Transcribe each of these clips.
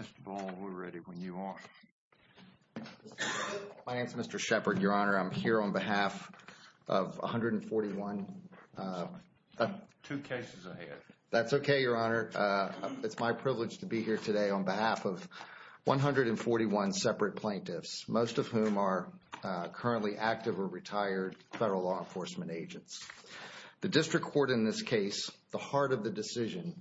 Mr. Ball, we're ready when you are. My name is Mr. Shepard, Your Honor. I'm here on behalf of 141 Two cases ahead. That's okay, Your Honor. It's my privilege to be here today on behalf of 141 separate plaintiffs, most of whom are currently active or retired federal law enforcement agents. The district court in this case, the heart of the decision,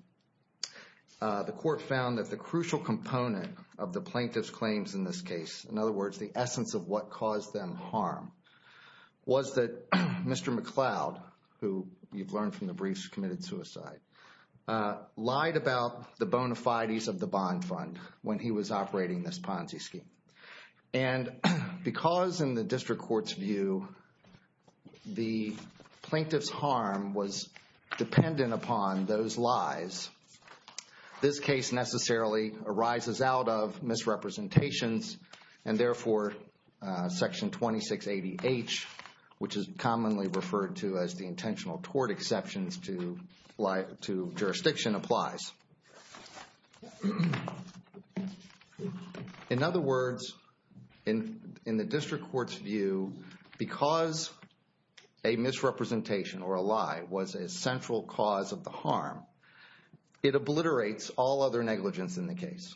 the court found that the crucial component of the plaintiff's claims in this case, in other words, the essence of what caused them harm, was that Mr. McCloud, who you've learned from the briefs, committed suicide, lied about the bona fides of the bond fund when he was operating this Ponzi scheme. And because in the district court's view, the plaintiff's harm was dependent upon those lies, this case necessarily arises out of misrepresentations and therefore Section 2680H, which is commonly referred to as the intentional tort exceptions to jurisdiction, applies. In other words, in the district court's view, because a misrepresentation or a lie was a central cause of the harm, it obliterates all other negligence in the case.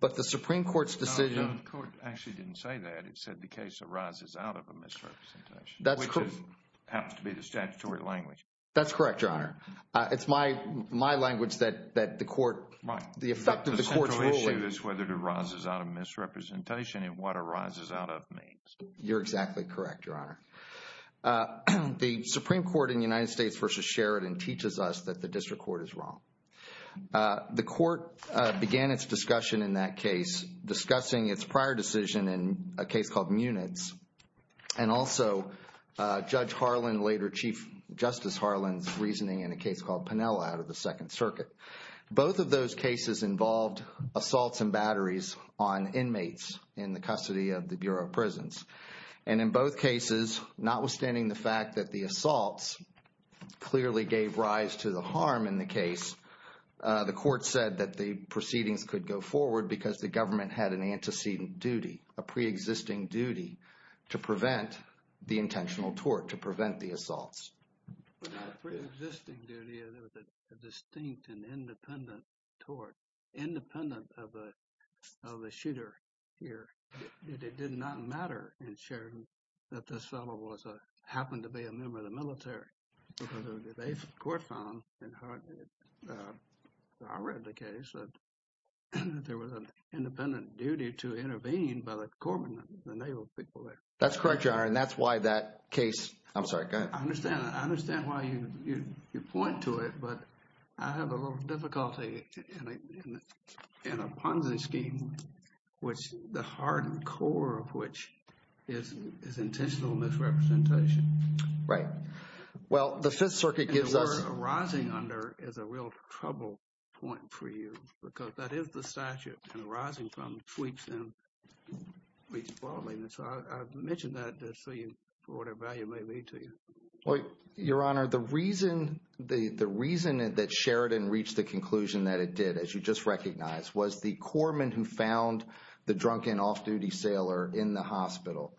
But the Supreme Court's decision No, the court actually didn't say that. It said the case arises out of a misrepresentation. Which happens to be the statutory language. That's correct, Your Honor. It's my language that the effect of the court's ruling is whether it arises out of misrepresentation and what arises out of means. You're exactly correct, Your Honor. The Supreme Court in the United States v. Sheridan teaches us that the district court is wrong. The court began its discussion in that case discussing its prior decision in a case called Munitz and also Judge Harlan, later Chief Justice Harlan's reasoning in a case called Pinella out of the Second Circuit. Both of those cases involved assaults and batteries on inmates in the custody of the Bureau of Prisons. And in both cases, notwithstanding the fact that the assaults clearly gave rise to the harm in the case, the court said that the proceedings could go forward because the government had an antecedent duty, a pre-existing duty to prevent the intentional tort, to prevent the assaults. A pre-existing duty, a distinct and independent tort, independent of a shooter here. It did not matter in Sheridan that this fellow happened to be a member of the military. The court found that I read the case that there was an independent duty to intervene by the corpsman, the naval people there. That's correct, Your Honor, and that's why that case, I'm sorry, go ahead. I understand why you point to it, but I have a little difficulty in a Ponzi scheme, which the heart and core of which is intentional misrepresentation. Right. Well, the Fifth Circuit gives us... And the word arising under is a real trouble point for you, because that is the statute, and arising from sweeps and tweets broadly. And so I've mentioned that to show you for whatever value it may be to you. Your Honor, the reason that Sheridan reached the conclusion that it did, as you just recognized, was the corpsman who found the drunken off-duty sailor in the hospital.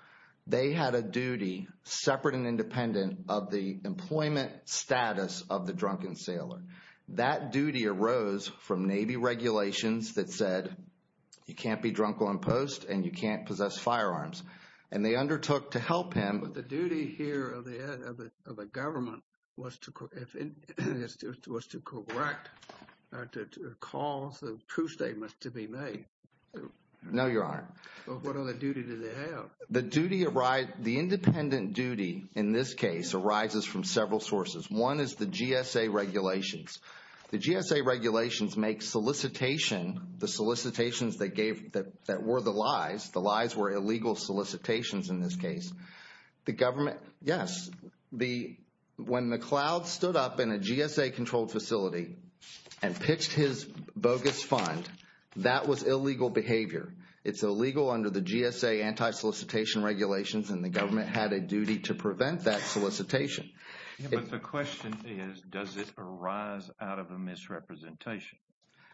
They had a duty separate and independent of the employment status of the drunken sailor. That duty arose from Navy regulations that said you can't be drunk on post and you can't possess firearms. And they undertook to help him. But the duty here of the head of the government was to correct or to cause the proof statements to be made. No, Your Honor. What other duty did they have? The independent duty in this case arises from several sources. One is the GSA regulations. The GSA regulations make solicitation, the solicitations that were the lies, the lies were illegal solicitations in this case. The government, yes, when McLeod stood up in a GSA-controlled facility and pitched his bogus fund, that was illegal behavior. It's illegal under the GSA anti-solicitation regulations, and the government had a duty to prevent that solicitation. But the question is, does it arise out of a misrepresentation?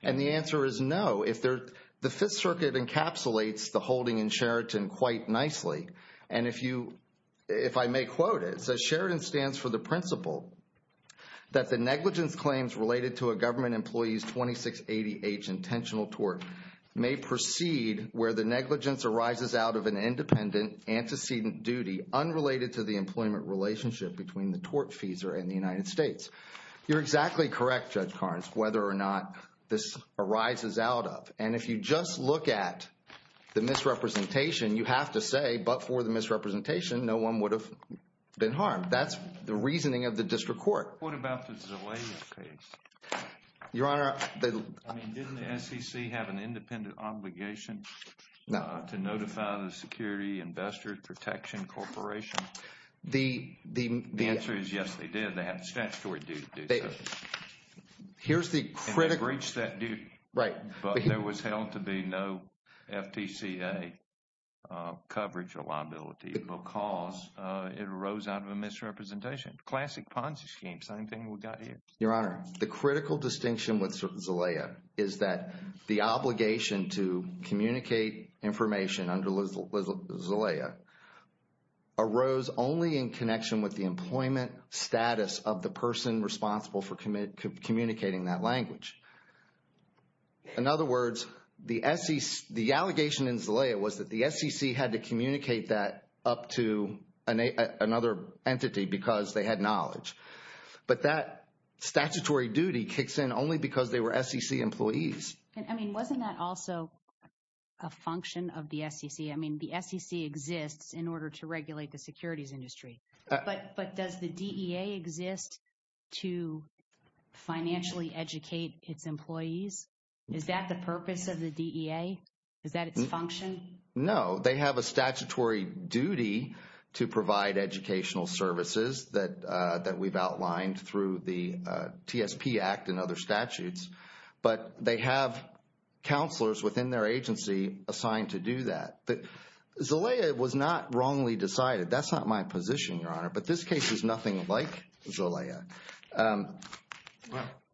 And the answer is no. The Fifth Circuit encapsulates the holding in Sheraton quite nicely. And if I may quote it, it says, Sheraton stands for the principle that the negligence claims related to a government employee's 2680H intentional tort may proceed where the negligence arises out of an independent antecedent duty unrelated to the employment relationship between the tortfeasor and the United States. You're exactly correct, Judge Carnes, whether or not this arises out of. And if you just look at the misrepresentation, you have to say, but for the misrepresentation, no one would have been harmed. That's the reasoning of the district court. What about the Zelaya case? Your Honor, didn't the SEC have an independent obligation to notify the Security Investor Protection Corporation? The answer is yes, they did. They had statutory duty to do so. And they breached that duty. Right. But there was held to be no FTCA coverage or liability because it arose out of a misrepresentation. Classic Ponzi scheme, same thing we've got here. Your Honor, the critical distinction with respect to Zelaya arose only in connection with the employment status of the person responsible for communicating that language. In other words, the SEC, the allegation in Zelaya was that the SEC had to communicate that up to another entity because they had knowledge. But that statutory duty kicks in only because they were SEC employees. I mean, wasn't that also a function of the SEC? I mean, the SEC exists in order to regulate the securities industry. But does the DEA exist to financially educate its employees? Is that the purpose of the DEA? Is that its function? No, they have a statutory duty to provide educational services that we've outlined through the TSP Act and other statutes. But they have counselors within their agency assigned to do that. Zelaya was not wrongly decided. That's not my position, Your Honor. But this case is nothing like Zelaya.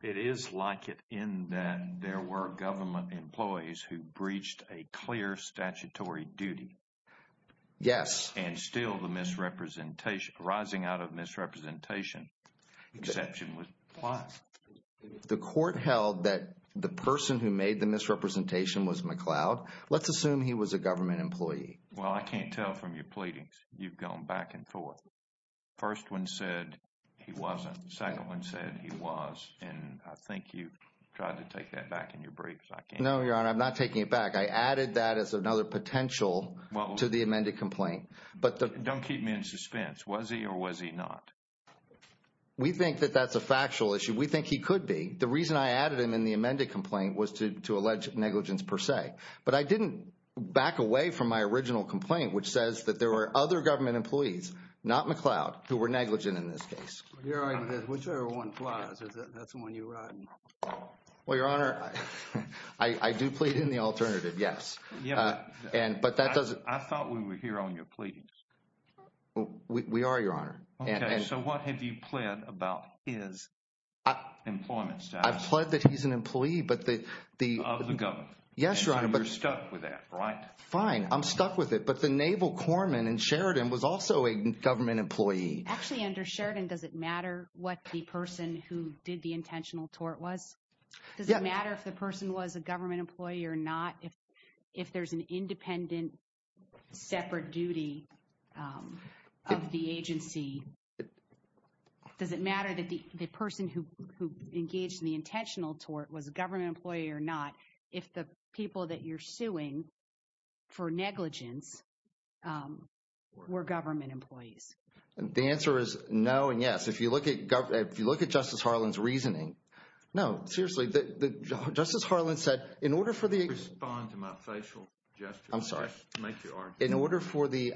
It is like it in that there were government employees who breached a clear statutory duty. Yes. And still the misrepresentation, rising out of misrepresentation exception. Why? The court held that the person who made the misrepresentation was McCloud. Let's assume he was a government employee. Well, I can't tell from your pleadings. You've gone back and forth. First one said he wasn't. Second one said he was. And I think you tried to take that back in your briefs. No, Your Honor. I'm not taking it back. I added that as another potential to the amended complaint. Don't keep me in suspense. Was he or was he not? We think that that's a factual issue. We think he could be. The reason I added him in the amended complaint was to allege negligence per se. But I didn't back away from my original complaint which says that there were other government employees, not McCloud, who were negligent in this case. Whichever one flies, that's the one you're on. Well, Your Honor, I do plead in the alternative, yes. But that doesn't... I thought we were here on your pleadings. We are, Your Honor. Okay, so what have you pled about his employment status? I've pled that he's an employee, but the... Of the government. Yes, Your Honor, but... And you're stuck with that, right? Fine, I'm stuck with it. But the naval corpsman in Sheridan was also a government employee. Actually, under Sheridan, does it matter what the person who did the intentional tort was? Does it matter if the person was a government employee or not? If there's an independent separate duty of the agency, does it matter that the person who engaged in the intentional tort was a government employee or not if the people that you're suing for negligence were government employees? The answer is no and yes. If you look at Justice Harlan's reasoning, no, seriously, Justice Harlan said in order for the... Respond to my facial gesture. I'm sorry. In order for the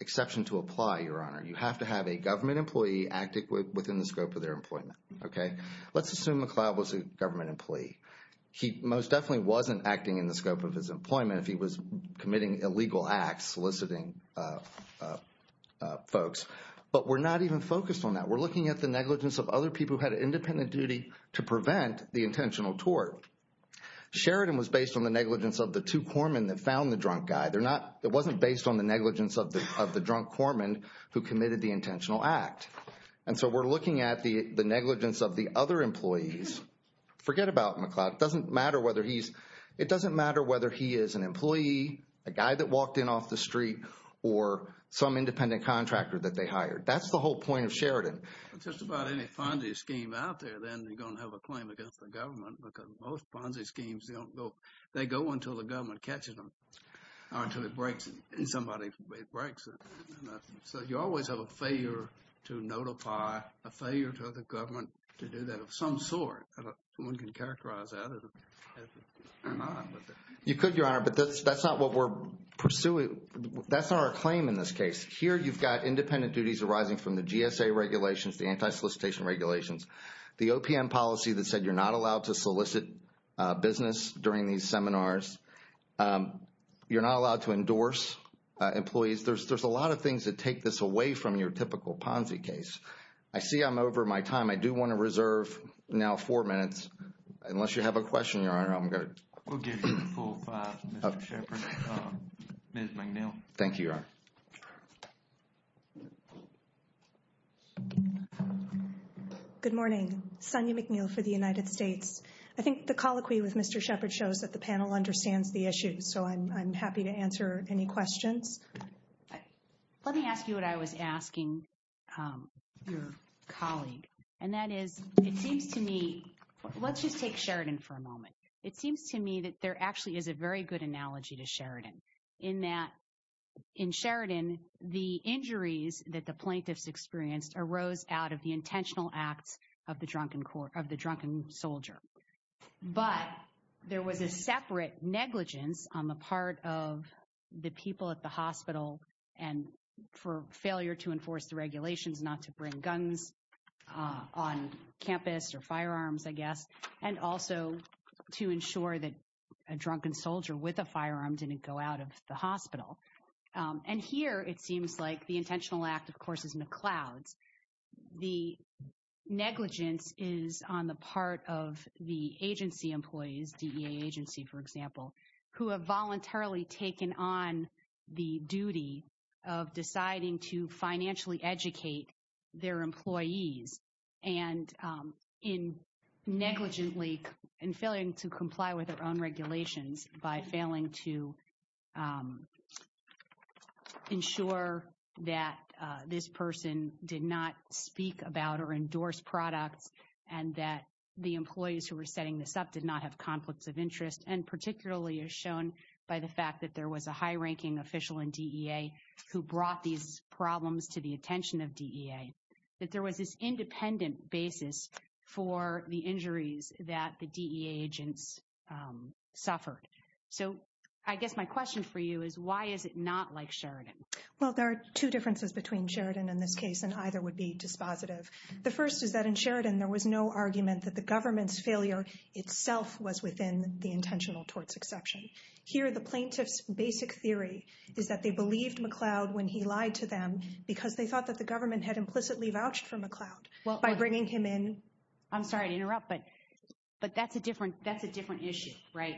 exception to apply, Your Honor, you have to have a government employee acting within the scope of their employment, okay? Let's assume McLeod was a government employee. He most definitely wasn't acting in the scope of his employment if he was committing illegal acts, soliciting folks. But we're not even focused on that. We're looking at the negligence of other people who had an independent duty to prevent the intentional tort. Sheridan was based on the negligence of the two corpsmen that found the drunk guy. It wasn't based on the negligence of the drunk corpsman who committed the intentional act. And so we're looking at the negligence of the other employees. Forget about McLeod. It doesn't matter whether he's... It doesn't matter whether he is an employee, a guy that walked in off the street, or some independent contractor that they hired. That's the whole point of Sheridan. Just about any Ponzi scheme out there, then they're going to have a claim against the government because most Ponzi schemes, they don't go... They go until the government catches them or until it breaks it and somebody breaks it. So you always have a failure to notify, a failure to have the government to do that of some sort. One can characterize that. You could, Your Honor, but that's not what we're pursuing. That's not our claim in this case. Here you've got independent duties arising from the GSA regulations, the anti-solicitation regulations, the OPM policy that said you're not allowed to solicit business during these seminars. You're not allowed to endorse employees. There's a lot of things that take this away from your typical Ponzi case. I see I'm over my time. I do want to reserve now four minutes, unless you have a question, Your Honor. I'm going to... We'll give you the full five, Mr. Shepard. Ms. McNeil. Thank you, Your Honor. Good morning. Sonya McNeil for the United States. I think the colloquy with Mr. Shepard shows that the panel understands the issue, so I'm happy to answer any questions. Let me ask you what I was asking your colleague, and that is, it seems to me... Let's just take Sheridan for a moment. It seems to me that there actually is a very good analogy to Sheridan, in that in Sheridan, the injuries that the plaintiffs experienced arose out of the intentional acts of the drunken soldier. But there was a separate negligence on the part of the people at the hospital and for failure to enforce the regulations not to bring guns on a drunken soldier with a firearm didn't go out of the hospital. And here, it seems like the intentional act, of course, is McLeod's. The negligence is on the part of the agency employees, DEA agency, for example, who have voluntarily taken on the duty of deciding to financially educate their employees and in negligently and failing to comply with their own regulations by failing to ensure that this person did not speak about or endorse products and that the employees who were setting this up did not have conflicts of interest. And particularly as shown by the fact that there was a high-ranking official in DEA who brought these up on a weekly basis for the injuries that the DEA agents suffered. So I guess my question for you is, why is it not like Sheridan? Well, there are two differences between Sheridan in this case, and either would be dispositive. The first is that in Sheridan, there was no argument that the government's failure itself was within the intentional torts exception. Here, the plaintiff's basic theory is that they believed they were explicitly vouched for McLeod by bringing him in. I'm sorry to interrupt, but that's a different issue, right?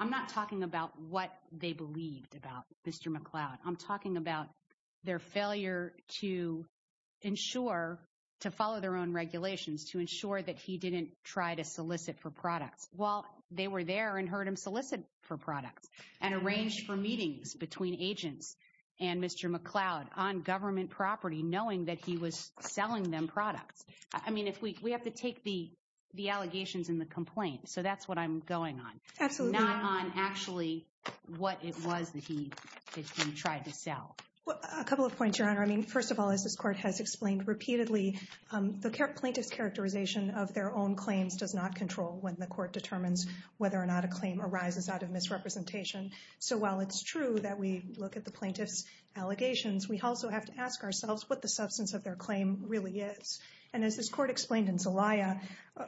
I'm not talking about what they believed about Mr. McLeod. I'm talking about their failure to ensure, to follow their own regulations, to ensure that he didn't try to solicit for products. Well, they were there and heard him solicit for products and arranged for meetings between agents and Mr. McLeod on government property, knowing that he was selling them products. I mean, we have to take the allegations and the complaints. So that's what I'm going on. Absolutely. Not on actually what it was that he tried to sell. A couple of points, Your Honor. I mean, first of all, as this court has explained repeatedly, the plaintiff's characterization of their own claims does not mean that while it's true that we look at the plaintiff's allegations, we also have to ask ourselves what the substance of their claim really is. And as this court explained in Zelaya,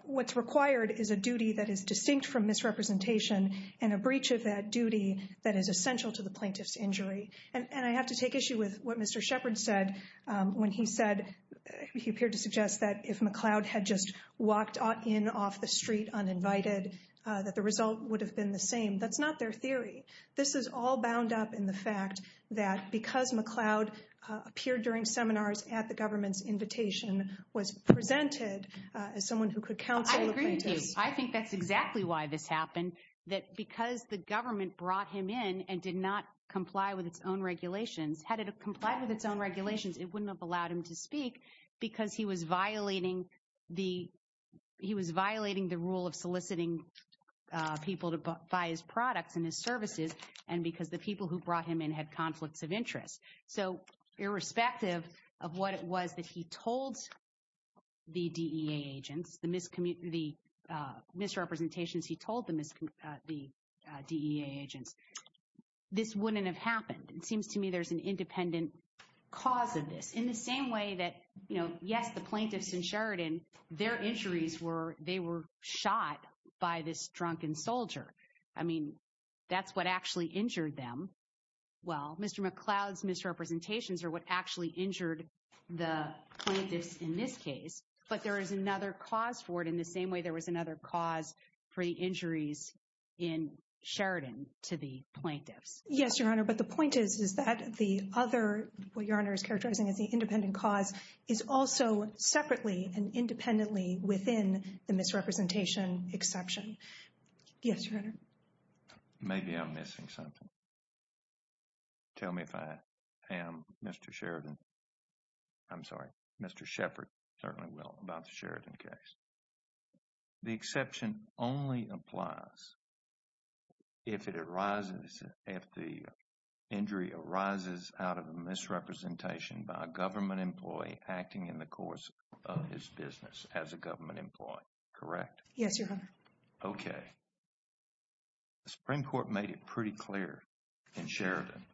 what's required is a duty that is distinct from misrepresentation and a breach of that duty that is essential to the plaintiff's injury. And I have to take issue with what Mr. Shepard said when he said he appeared to suggest that if McLeod had just come in, it would have all bound up in the fact that because McLeod appeared during seminars at the government's invitation, was presented as someone who could counsel the plaintiffs. I agree with you. I think that's exactly why this happened, that because the government brought him in and did not comply with its own regulations, had it complied with its own regulations, it wouldn't have allowed him to speak because he was violating the, he was violating the rule of soliciting people to buy his products and his services and because the people who brought him in had conflicts of interest. So irrespective of what it was that he told the DEA agents, the misrepresentations he told the DEA agents, this wouldn't have happened. It seems to me there's an independent cause of this. In the same way that, you know, yes, the plaintiffs in Sheridan, their injuries were, they were shot by this drunken soldier. I mean, that's what actually injured them. Well, Mr. McLeod's misrepresentations are what actually injured the plaintiffs in this case. But there is another cause for it in the same way there was another cause for the injuries in Sheridan to the plaintiffs. Yes, Your Honor. But the point is, is that the other, what Your Honor is characterizing as the independent cause, is also separately and independently within the misrepresentation exception. Yes, Your Honor. Maybe I'm missing something. Tell me if I am, Mr. Sheridan, I'm sorry, Mr. Shepard certainly will, about the Sheridan case. The exception only applies if it arises, if the injury arises out of a misrepresentation by a government employee acting in the course of his business as a government employee, correct? Yes, Your Honor. Okay. The Supreme Court made it pretty clear in Sheridan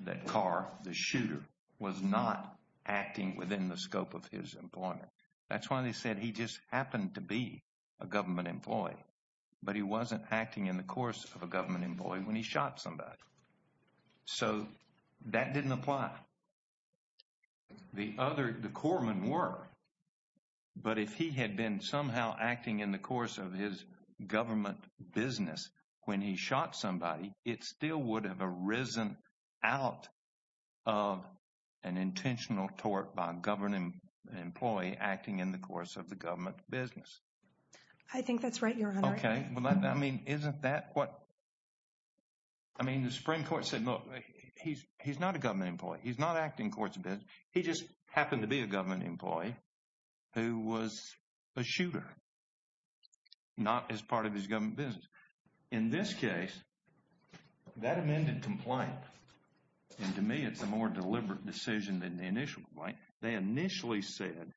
that Carr, the shooter, was not acting within the scope of his employment. That's why they said he just happened to be a government employee. But he wasn't acting in the course of a government employee when he shot somebody. So that didn't apply. The other, the corpsmen were. But if he had been somehow acting in the course of his government business when he shot somebody, it still would have arisen out of an intentional tort by a government employee acting in the course of the government business. I think that's right, Your Honor. Okay. Well, I mean, isn't that what, I mean, the Supreme Court said, look, he's not a government employee. He's not acting in the course of business. He just happened to be a government employee who was a shooter, not as part of his government business. In this case, that amended complaint. And to me, it's a more deliberate decision than the initial complaint. They initially said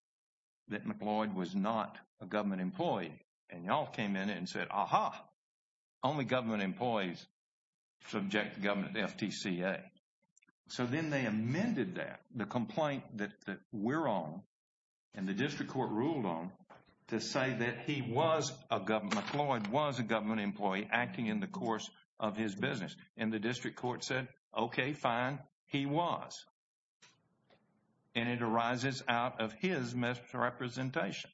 that McLeod was not a government employee. And y'all came in and said, aha, only government employees subject to government FTCA. So then they amended that, the complaint that we're on and the district court ruled on to say that he was a government, McLeod was a government employee acting in the course of his business. And the district court said, okay, fine, he was. And it arises out of his misrepresentation.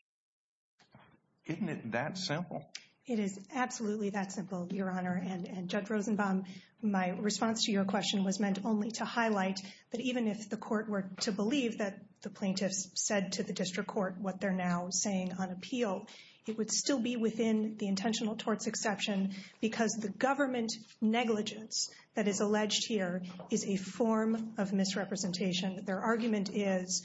Isn't it that simple? It is absolutely that simple, Your Honor. And Judge Rosenbaum, my response to your question was meant only to highlight that even if the court were to believe that the plaintiffs said to the district court what they're now saying on appeal, it would still be within the intentional torts exception because the government negligence that is alleged here is a form of misrepresentation. Their argument is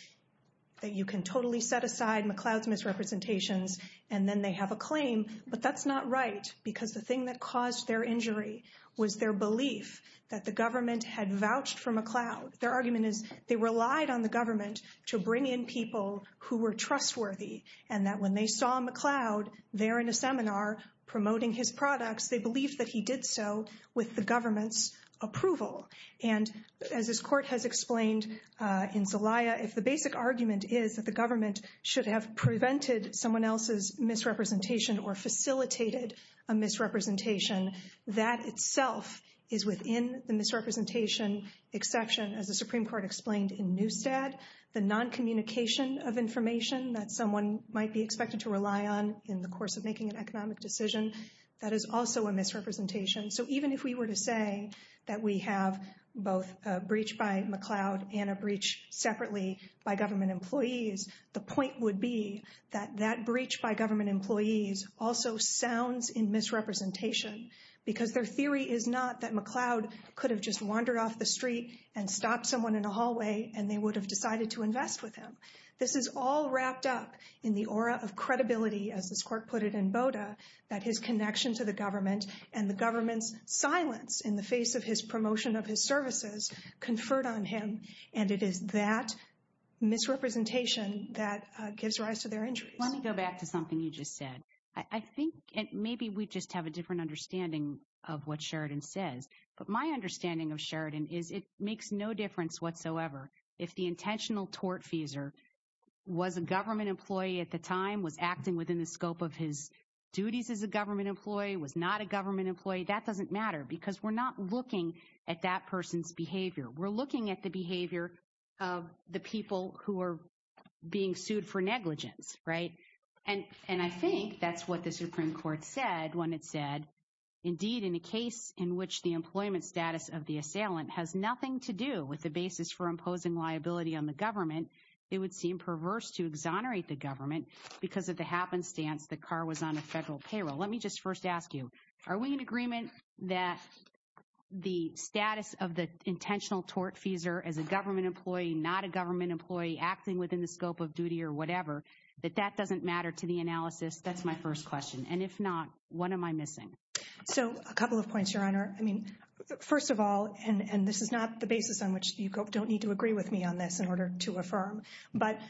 that you can totally set aside McLeod's misrepresentations and then they have a claim. But that's not right because the thing that caused their injury was their belief that the government had vouched for McLeod. Their argument is they relied on the government to bring in people who were trustworthy and that when they saw McLeod there in a seminar promoting his products, they believed that he did so with the government's approval. And as this court has explained in Zelaya, if the basic argument is that the government should have prevented someone else's misrepresentation or facilitated a misrepresentation, that itself is within the misrepresentation exception as the Supreme Court explained in Neustadt. The noncommunication of information that someone might be expected to rely on in the course of making an economic decision, that is also a misrepresentation. So even if we were to say that we have both a breach by McLeod and a breach separately by government employees, the point would be that that breach by government employees also sounds in misrepresentation because their theory is not that McLeod could have just wandered off the street and stopped someone in a hallway and they would have decided to invest with him. This is all wrapped up in the aura of credibility, as this court put it in Boda, that his connection to the government and the government's silence in the face of his promotion of his services conferred on him. And it is that misrepresentation that gives rise to their injuries. Let me go back to something you just said. I think maybe we just have a different understanding of what Sheridan says. But my understanding of Sheridan is it makes no difference whatsoever if the intentional tortfeasor was a government employee at the time, was acting within the scope of his duties as a government employee, was not a government employee. That doesn't matter because we're not looking at that person's behavior. We're looking at the behavior of the people who are being sued for negligence, right? And I think that's what the Supreme Court said when it said, indeed, in a case in which the employment status of the assailant has nothing to do with the basis for imposing liability on the government, it would seem perverse to exonerate the government because of the happenstance the car was on a federal payroll. Let me just first ask you, are we in agreement that the status of the intentional tortfeasor as a government employee, not a government employee, acting within the scope of duty or whatever, that that doesn't matter to the analysis? That's my first question. And if not, what am I missing? So a couple of points, Your Honor. I mean, first of all, and this is not the basis on which you don't need to agree with me on this in order to affirm. But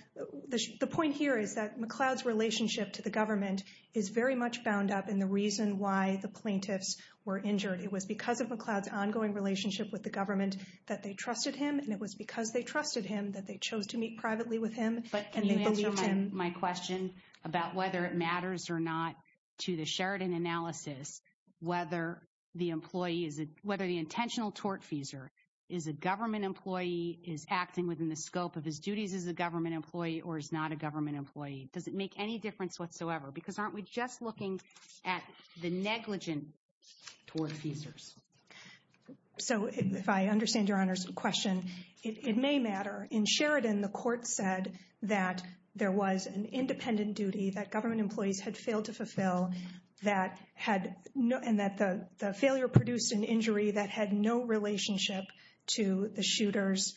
the point here is that McLeod's relationship to the government is very much bound up in the reason why the plaintiffs were injured. It was because of McLeod's ongoing relationship with the government that they trusted him. And it was because they trusted him that they chose to meet privately with him. But can you answer my question about whether it matters or not to the Sheridan analysis, whether the employee, whether the intentional tortfeasor is a government employee, is acting within the scope of his duties as a government employee or is not a government employee? Does it make any difference whatsoever? Because aren't we just looking at the negligent tortfeasors? So if I were to assume that there was an independent duty that government employees had failed to fulfill and that the failure produced an injury that had no relationship to the shooter's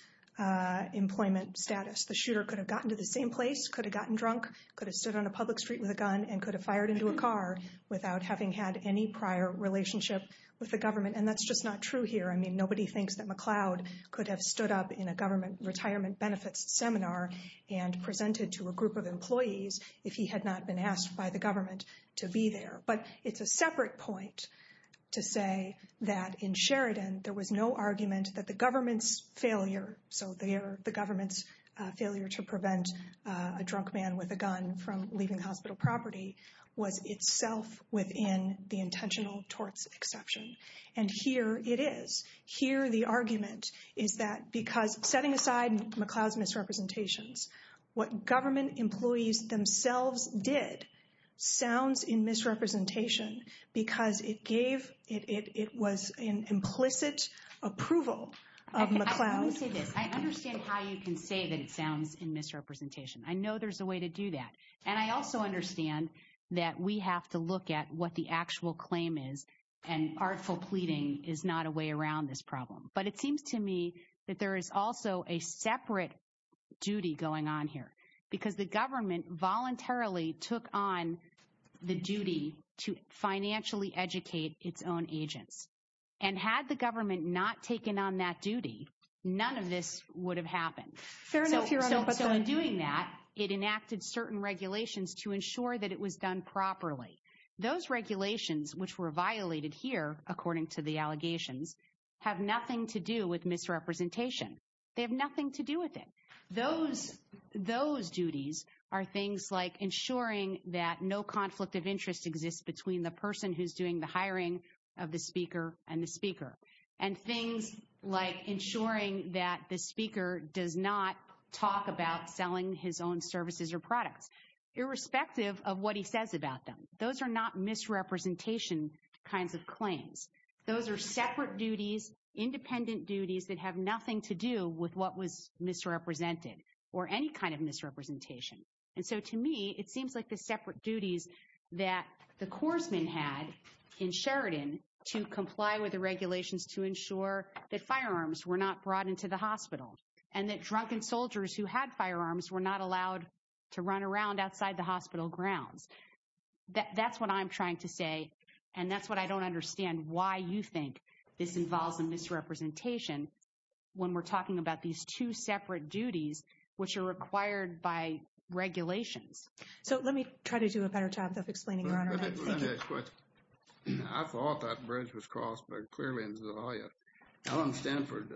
employment status, the shooter could have gotten to the same place, could have gotten drunk, could have stood on a public street with a gun, and could have fired into a car without having had any prior relationship with the government. And that's just not true here. I mean, nobody thinks that McLeod could have stood up in a government retirement benefits seminar and presented to a group of employees if he had not been asked by the government to be there. But it's a separate point to say that in Sheridan there was no argument that the government's failure, so the government's failure to prevent a drunk man with a gun from leaving hospital property, was itself within the intentional torts exception. And here it is. Here the argument is that because, setting aside McLeod's misrepresentations, what government employees themselves did sounds in misrepresentation because it gave, it was an implicit approval of McLeod. Let me say this. I understand how you can say that it sounds in misrepresentation. I know there's a way to do that. And I also understand that we have to look at what the actual claim is. And artful pleading is not a way around this problem. But it seems to me that there is also a separate duty going on here. Because the government voluntarily took on the duty to financially educate its own agents. And had the government not taken on that duty, none of this would have happened. So in doing that, it enacted certain regulations to ensure that it was done properly. Those regulations, which were violated here, according to the allegations, have nothing to do with misrepresentation. They have nothing to do with it. Those duties are things like ensuring that no conflict of interest exists between the person who's doing the hiring of the speaker and the speaker. And things like ensuring that the speaker does not talk about selling his own services or products, irrespective of what he says about them. Those are not misrepresentation kinds of claims. Those are separate duties, independent duties that have nothing to do with what was misrepresented. Or any kind of misrepresentation. And so to me, it seems like the separate duties that the corpsmen had in Sheridan to comply with the regulations to ensure that firearms were not brought into the hospital. And that drunken soldiers who had firearms were not allowed to run around outside the hospital grounds. That's what I'm trying to say. And that's what I don't understand why you think this involves a misrepresentation when we're talking about these two separate duties which are required by regulations. So let me try to do a better job of explaining your Honor. I thought that bridge was crossed, but clearly it wasn't. Allen Stanford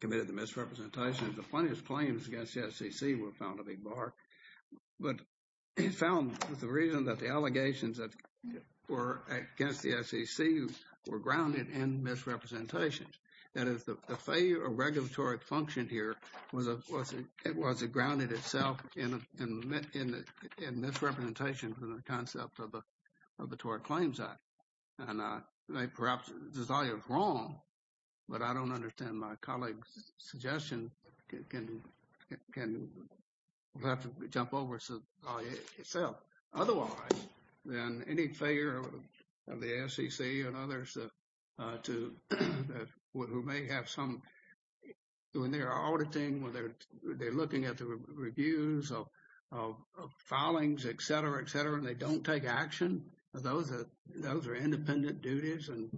committed the misrepresentation. The funniest claims against the SEC were found to be bark. But he found the reason that the allegations that were against the SEC were grounded in misrepresentation. That is the failure of regulatory function here was a grounded itself in misrepresentation from the concept of the Tort Claims Act. And I may perhaps desire it wrong, but I don't understand why my colleague's suggestion can have to jump over itself. Otherwise, then any failure of the SEC and others who may have some when they're auditing, when they're looking at the reviews of filings, et cetera, et cetera, and they don't take action. Those are independent duties and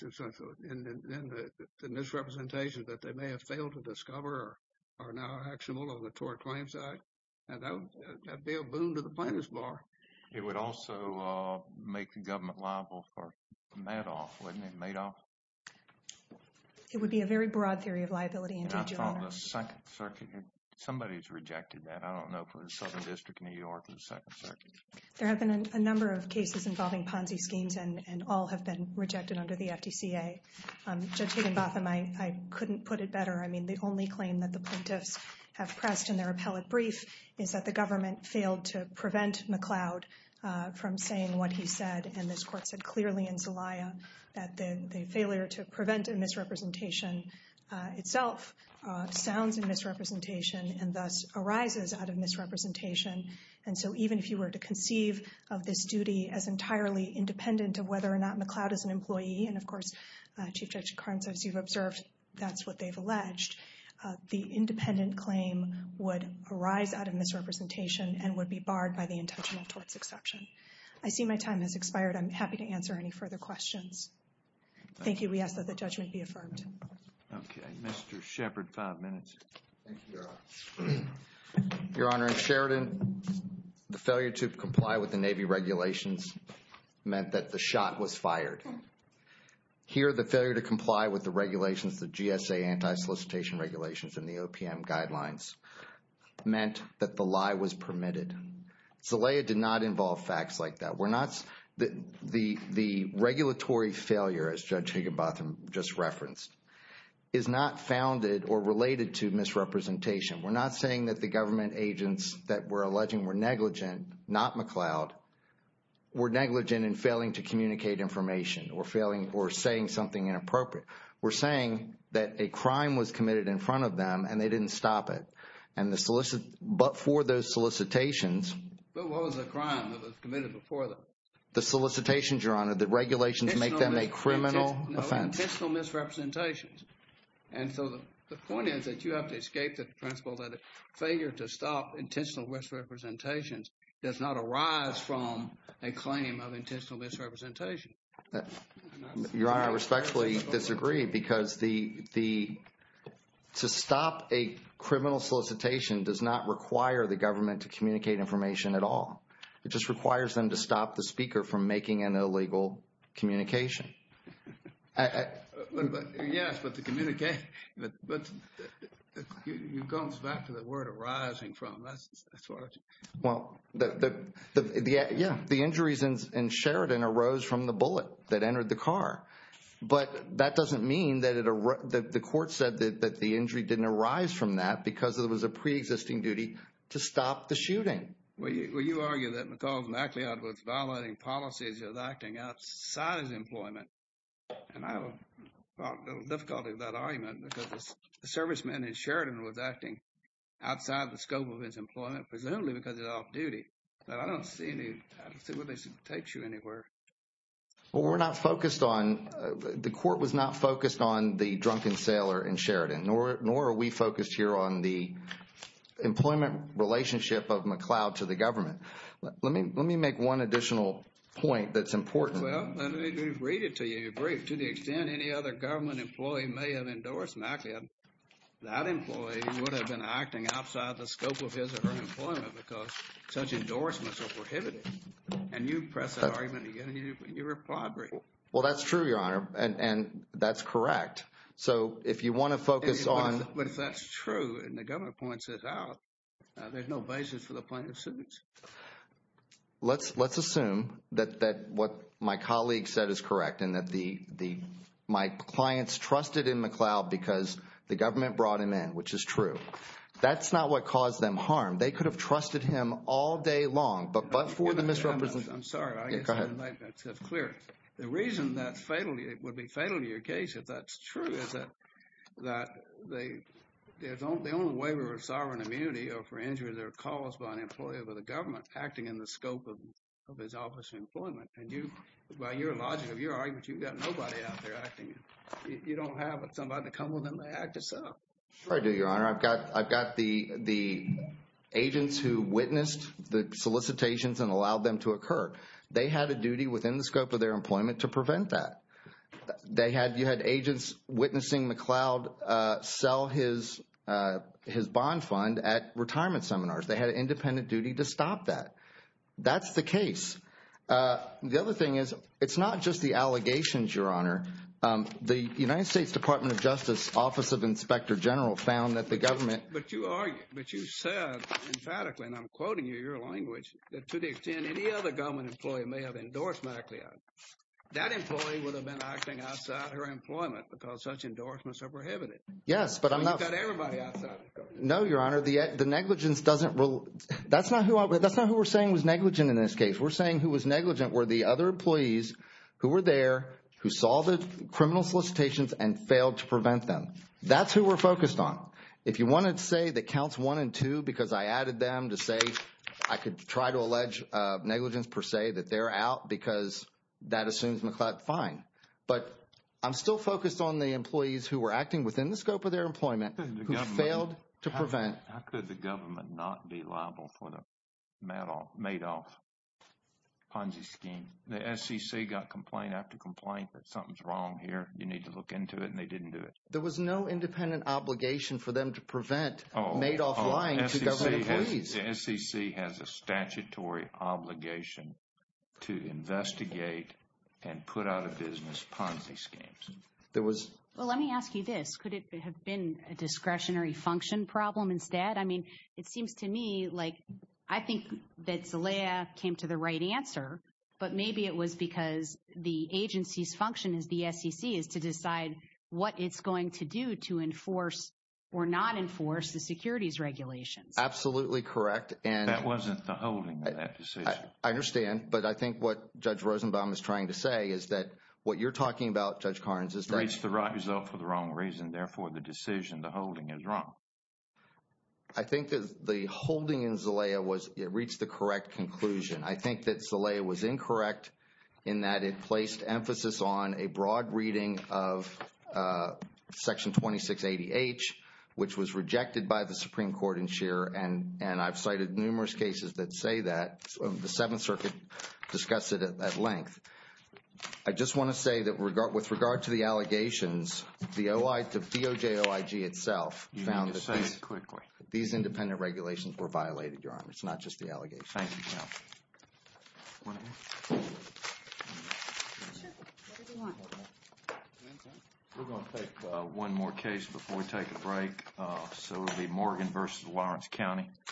the misrepresentation that they may have failed to discover are now actionable on the Tort Claims Act. And that would be a boon to the plaintiff's bar. It would also make the government liable for Madoff, wouldn't it? There have been a number of cases involving Ponzi schemes and all have been rejected under the FDCA. Judge Higginbotham, I couldn't put it better. I mean, the only claim that the plaintiffs have pressed in their appellate brief is that the government failed to prevent McLeod from saying what he said. And this court said clearly in Zelaya that the failure to prevent a misrepresentation itself sounds in misrepresentation and thus arises out of misrepresentation. And so even if you were to conceive of this duty as entirely independent of whether or not McLeod is an employee, and of course, Chief Judge Carnes, as you've observed, that's what they've alleged, the independent claim would arise out of misrepresentation and would be barred by the intentional torts exception. I see my time has expired. I'm happy to answer any further questions. Thank you. We ask that the judgment be affirmed. Okay. Mr. Shepard, five minutes. Your Honor, in Sheridan, the failure to comply with the Navy regulations meant that the shot was fired. Here, the failure to comply with the regulations, the GSA anti-solicitation regulations and the OPM guidelines meant that the lie was permitted. Zelaya did not involve facts like that. The regulatory failure, as Judge Higginbotham just referenced, is not founded or related to misrepresentation. We're not saying that the government agents that we're alleging were negligent, not McLeod, were negligent in failing to communicate information or saying something inappropriate. We're saying that a crime was committed in front of them and they didn't stop it. But for those solicitations... But what was the crime that was committed before them? The solicitations, Your Honor, the regulations make them a criminal offense. Intentional misrepresentations. And so the point is that you have to escape the principle that failure to stop intentional misrepresentations does not arise from a claim of intentional misrepresentation. Your Honor, I respectfully disagree because to stop a criminal solicitation does not require the government to communicate information at all. It just requires them to stop the speaker from making an illegal communication. Yes, but the communication... You're going back to the word arising from. Yeah, the injuries in Sheridan arose from the bullet that entered the car. But that doesn't mean that the court said that the injury didn't arise from that because it was a preexisting duty to stop the shooting. Well, you argue that McLeod was violating policies of acting outside of employment. And I have difficulty with that argument because the serviceman in Sheridan was acting outside the scope of his employment, presumably because he's off duty. I don't see where this takes you anywhere. The court was not focused on the drunken sailor in Sheridan, nor are we focused here on the Let me make one additional point that's important. Well, let me read it to you in brief. To the extent any other government employee may have endorsed McLeod, that employee would have been acting outside the scope of his or her employment because such endorsements are prohibited. And you press that argument again and you reply briefly. Well, that's true, Your Honor, and that's correct. So if you want to focus on... But if that's true and the government points it out, there's no basis for the plaintiff's suit. Let's assume that what my colleague said is correct and that my clients trusted in McLeod because the government brought him in, which is true. That's not what caused them harm. They could have trusted him all day long, but for the misrepresentation... I'm sorry. Go ahead. The reason that would be fatal to your case, if that's true, is that the only waiver of sovereign immunity or for injury that are caused by an employee of the government acting in the scope of his office employment. And by your logic of your argument, you've got nobody out there acting. You don't have somebody to come with and act itself. Sure I do, Your Honor. I've got the agents who witnessed the solicitations and allowed them to occur. They had a duty within the scope of their employment to prevent that. You had agents witnessing McLeod sell his bond fund at retirement seminars. They had an independent duty to stop that. That's the case. The other thing is, it's not just the allegations, Your Honor. The United States Department of Justice Office of Inspector General found that the government... But you argued, but you said emphatically, and I'm quoting you, your language, that to the extent any other government employee may have endorsed McLeod, that employee would have been acting outside her employment because such endorsements are prohibited. Yes, but I'm not... No, Your Honor. The negligence doesn't... That's not who we're saying was negligent in this case. We're saying who was negligent were the other employees who were there, who saw the criminal solicitations and failed to prevent them. That's who we're focused on. If you wanted to say that counts one and two because I added them to say I could try to allege negligence per se, that they're out because that assumes McLeod, fine. But I'm still focused on the employees who were acting within the scope of their employment, who failed to prevent... How could the government not be liable for the Madoff Ponzi scheme? The SEC got complaint after complaint that something's wrong here. You need to look into it, and they didn't do it. There was no independent obligation for them to prevent Madoff lying to government employees. The SEC has a statutory obligation to investigate and put out of business Ponzi schemes. Well, let me ask you this. Could it have been a discretionary function problem instead? I mean, it seems to me like I think that Zelaya came to the right answer, but maybe it was because the agency's function as the SEC is to decide what it's going to do to enforce or not enforce the securities regulations. Absolutely correct. That wasn't the holding of that decision. I understand. But I think what Judge Rosenbaum is trying to say is that what you're talking about, Judge Carnes, is that... It's the right result for the wrong reason. Therefore, the decision, the holding is wrong. I think that the holding in Zelaya was it reached the correct conclusion. I think that Zelaya was incorrect in that it placed emphasis on a broad reading of Section 2680H, which was rejected by the Supreme Court in Shearer. And I've cited numerous cases that say that. The Seventh Circuit discussed it at length. I just want to say that with regard to the allegations, the DOJ OIG itself found that these independent regulations were violated, Your Honor. It's not just the allegations. Thank you, Your Honor. We're going to take one more case before we take a break. So it will be Morgan v. Lawrence County.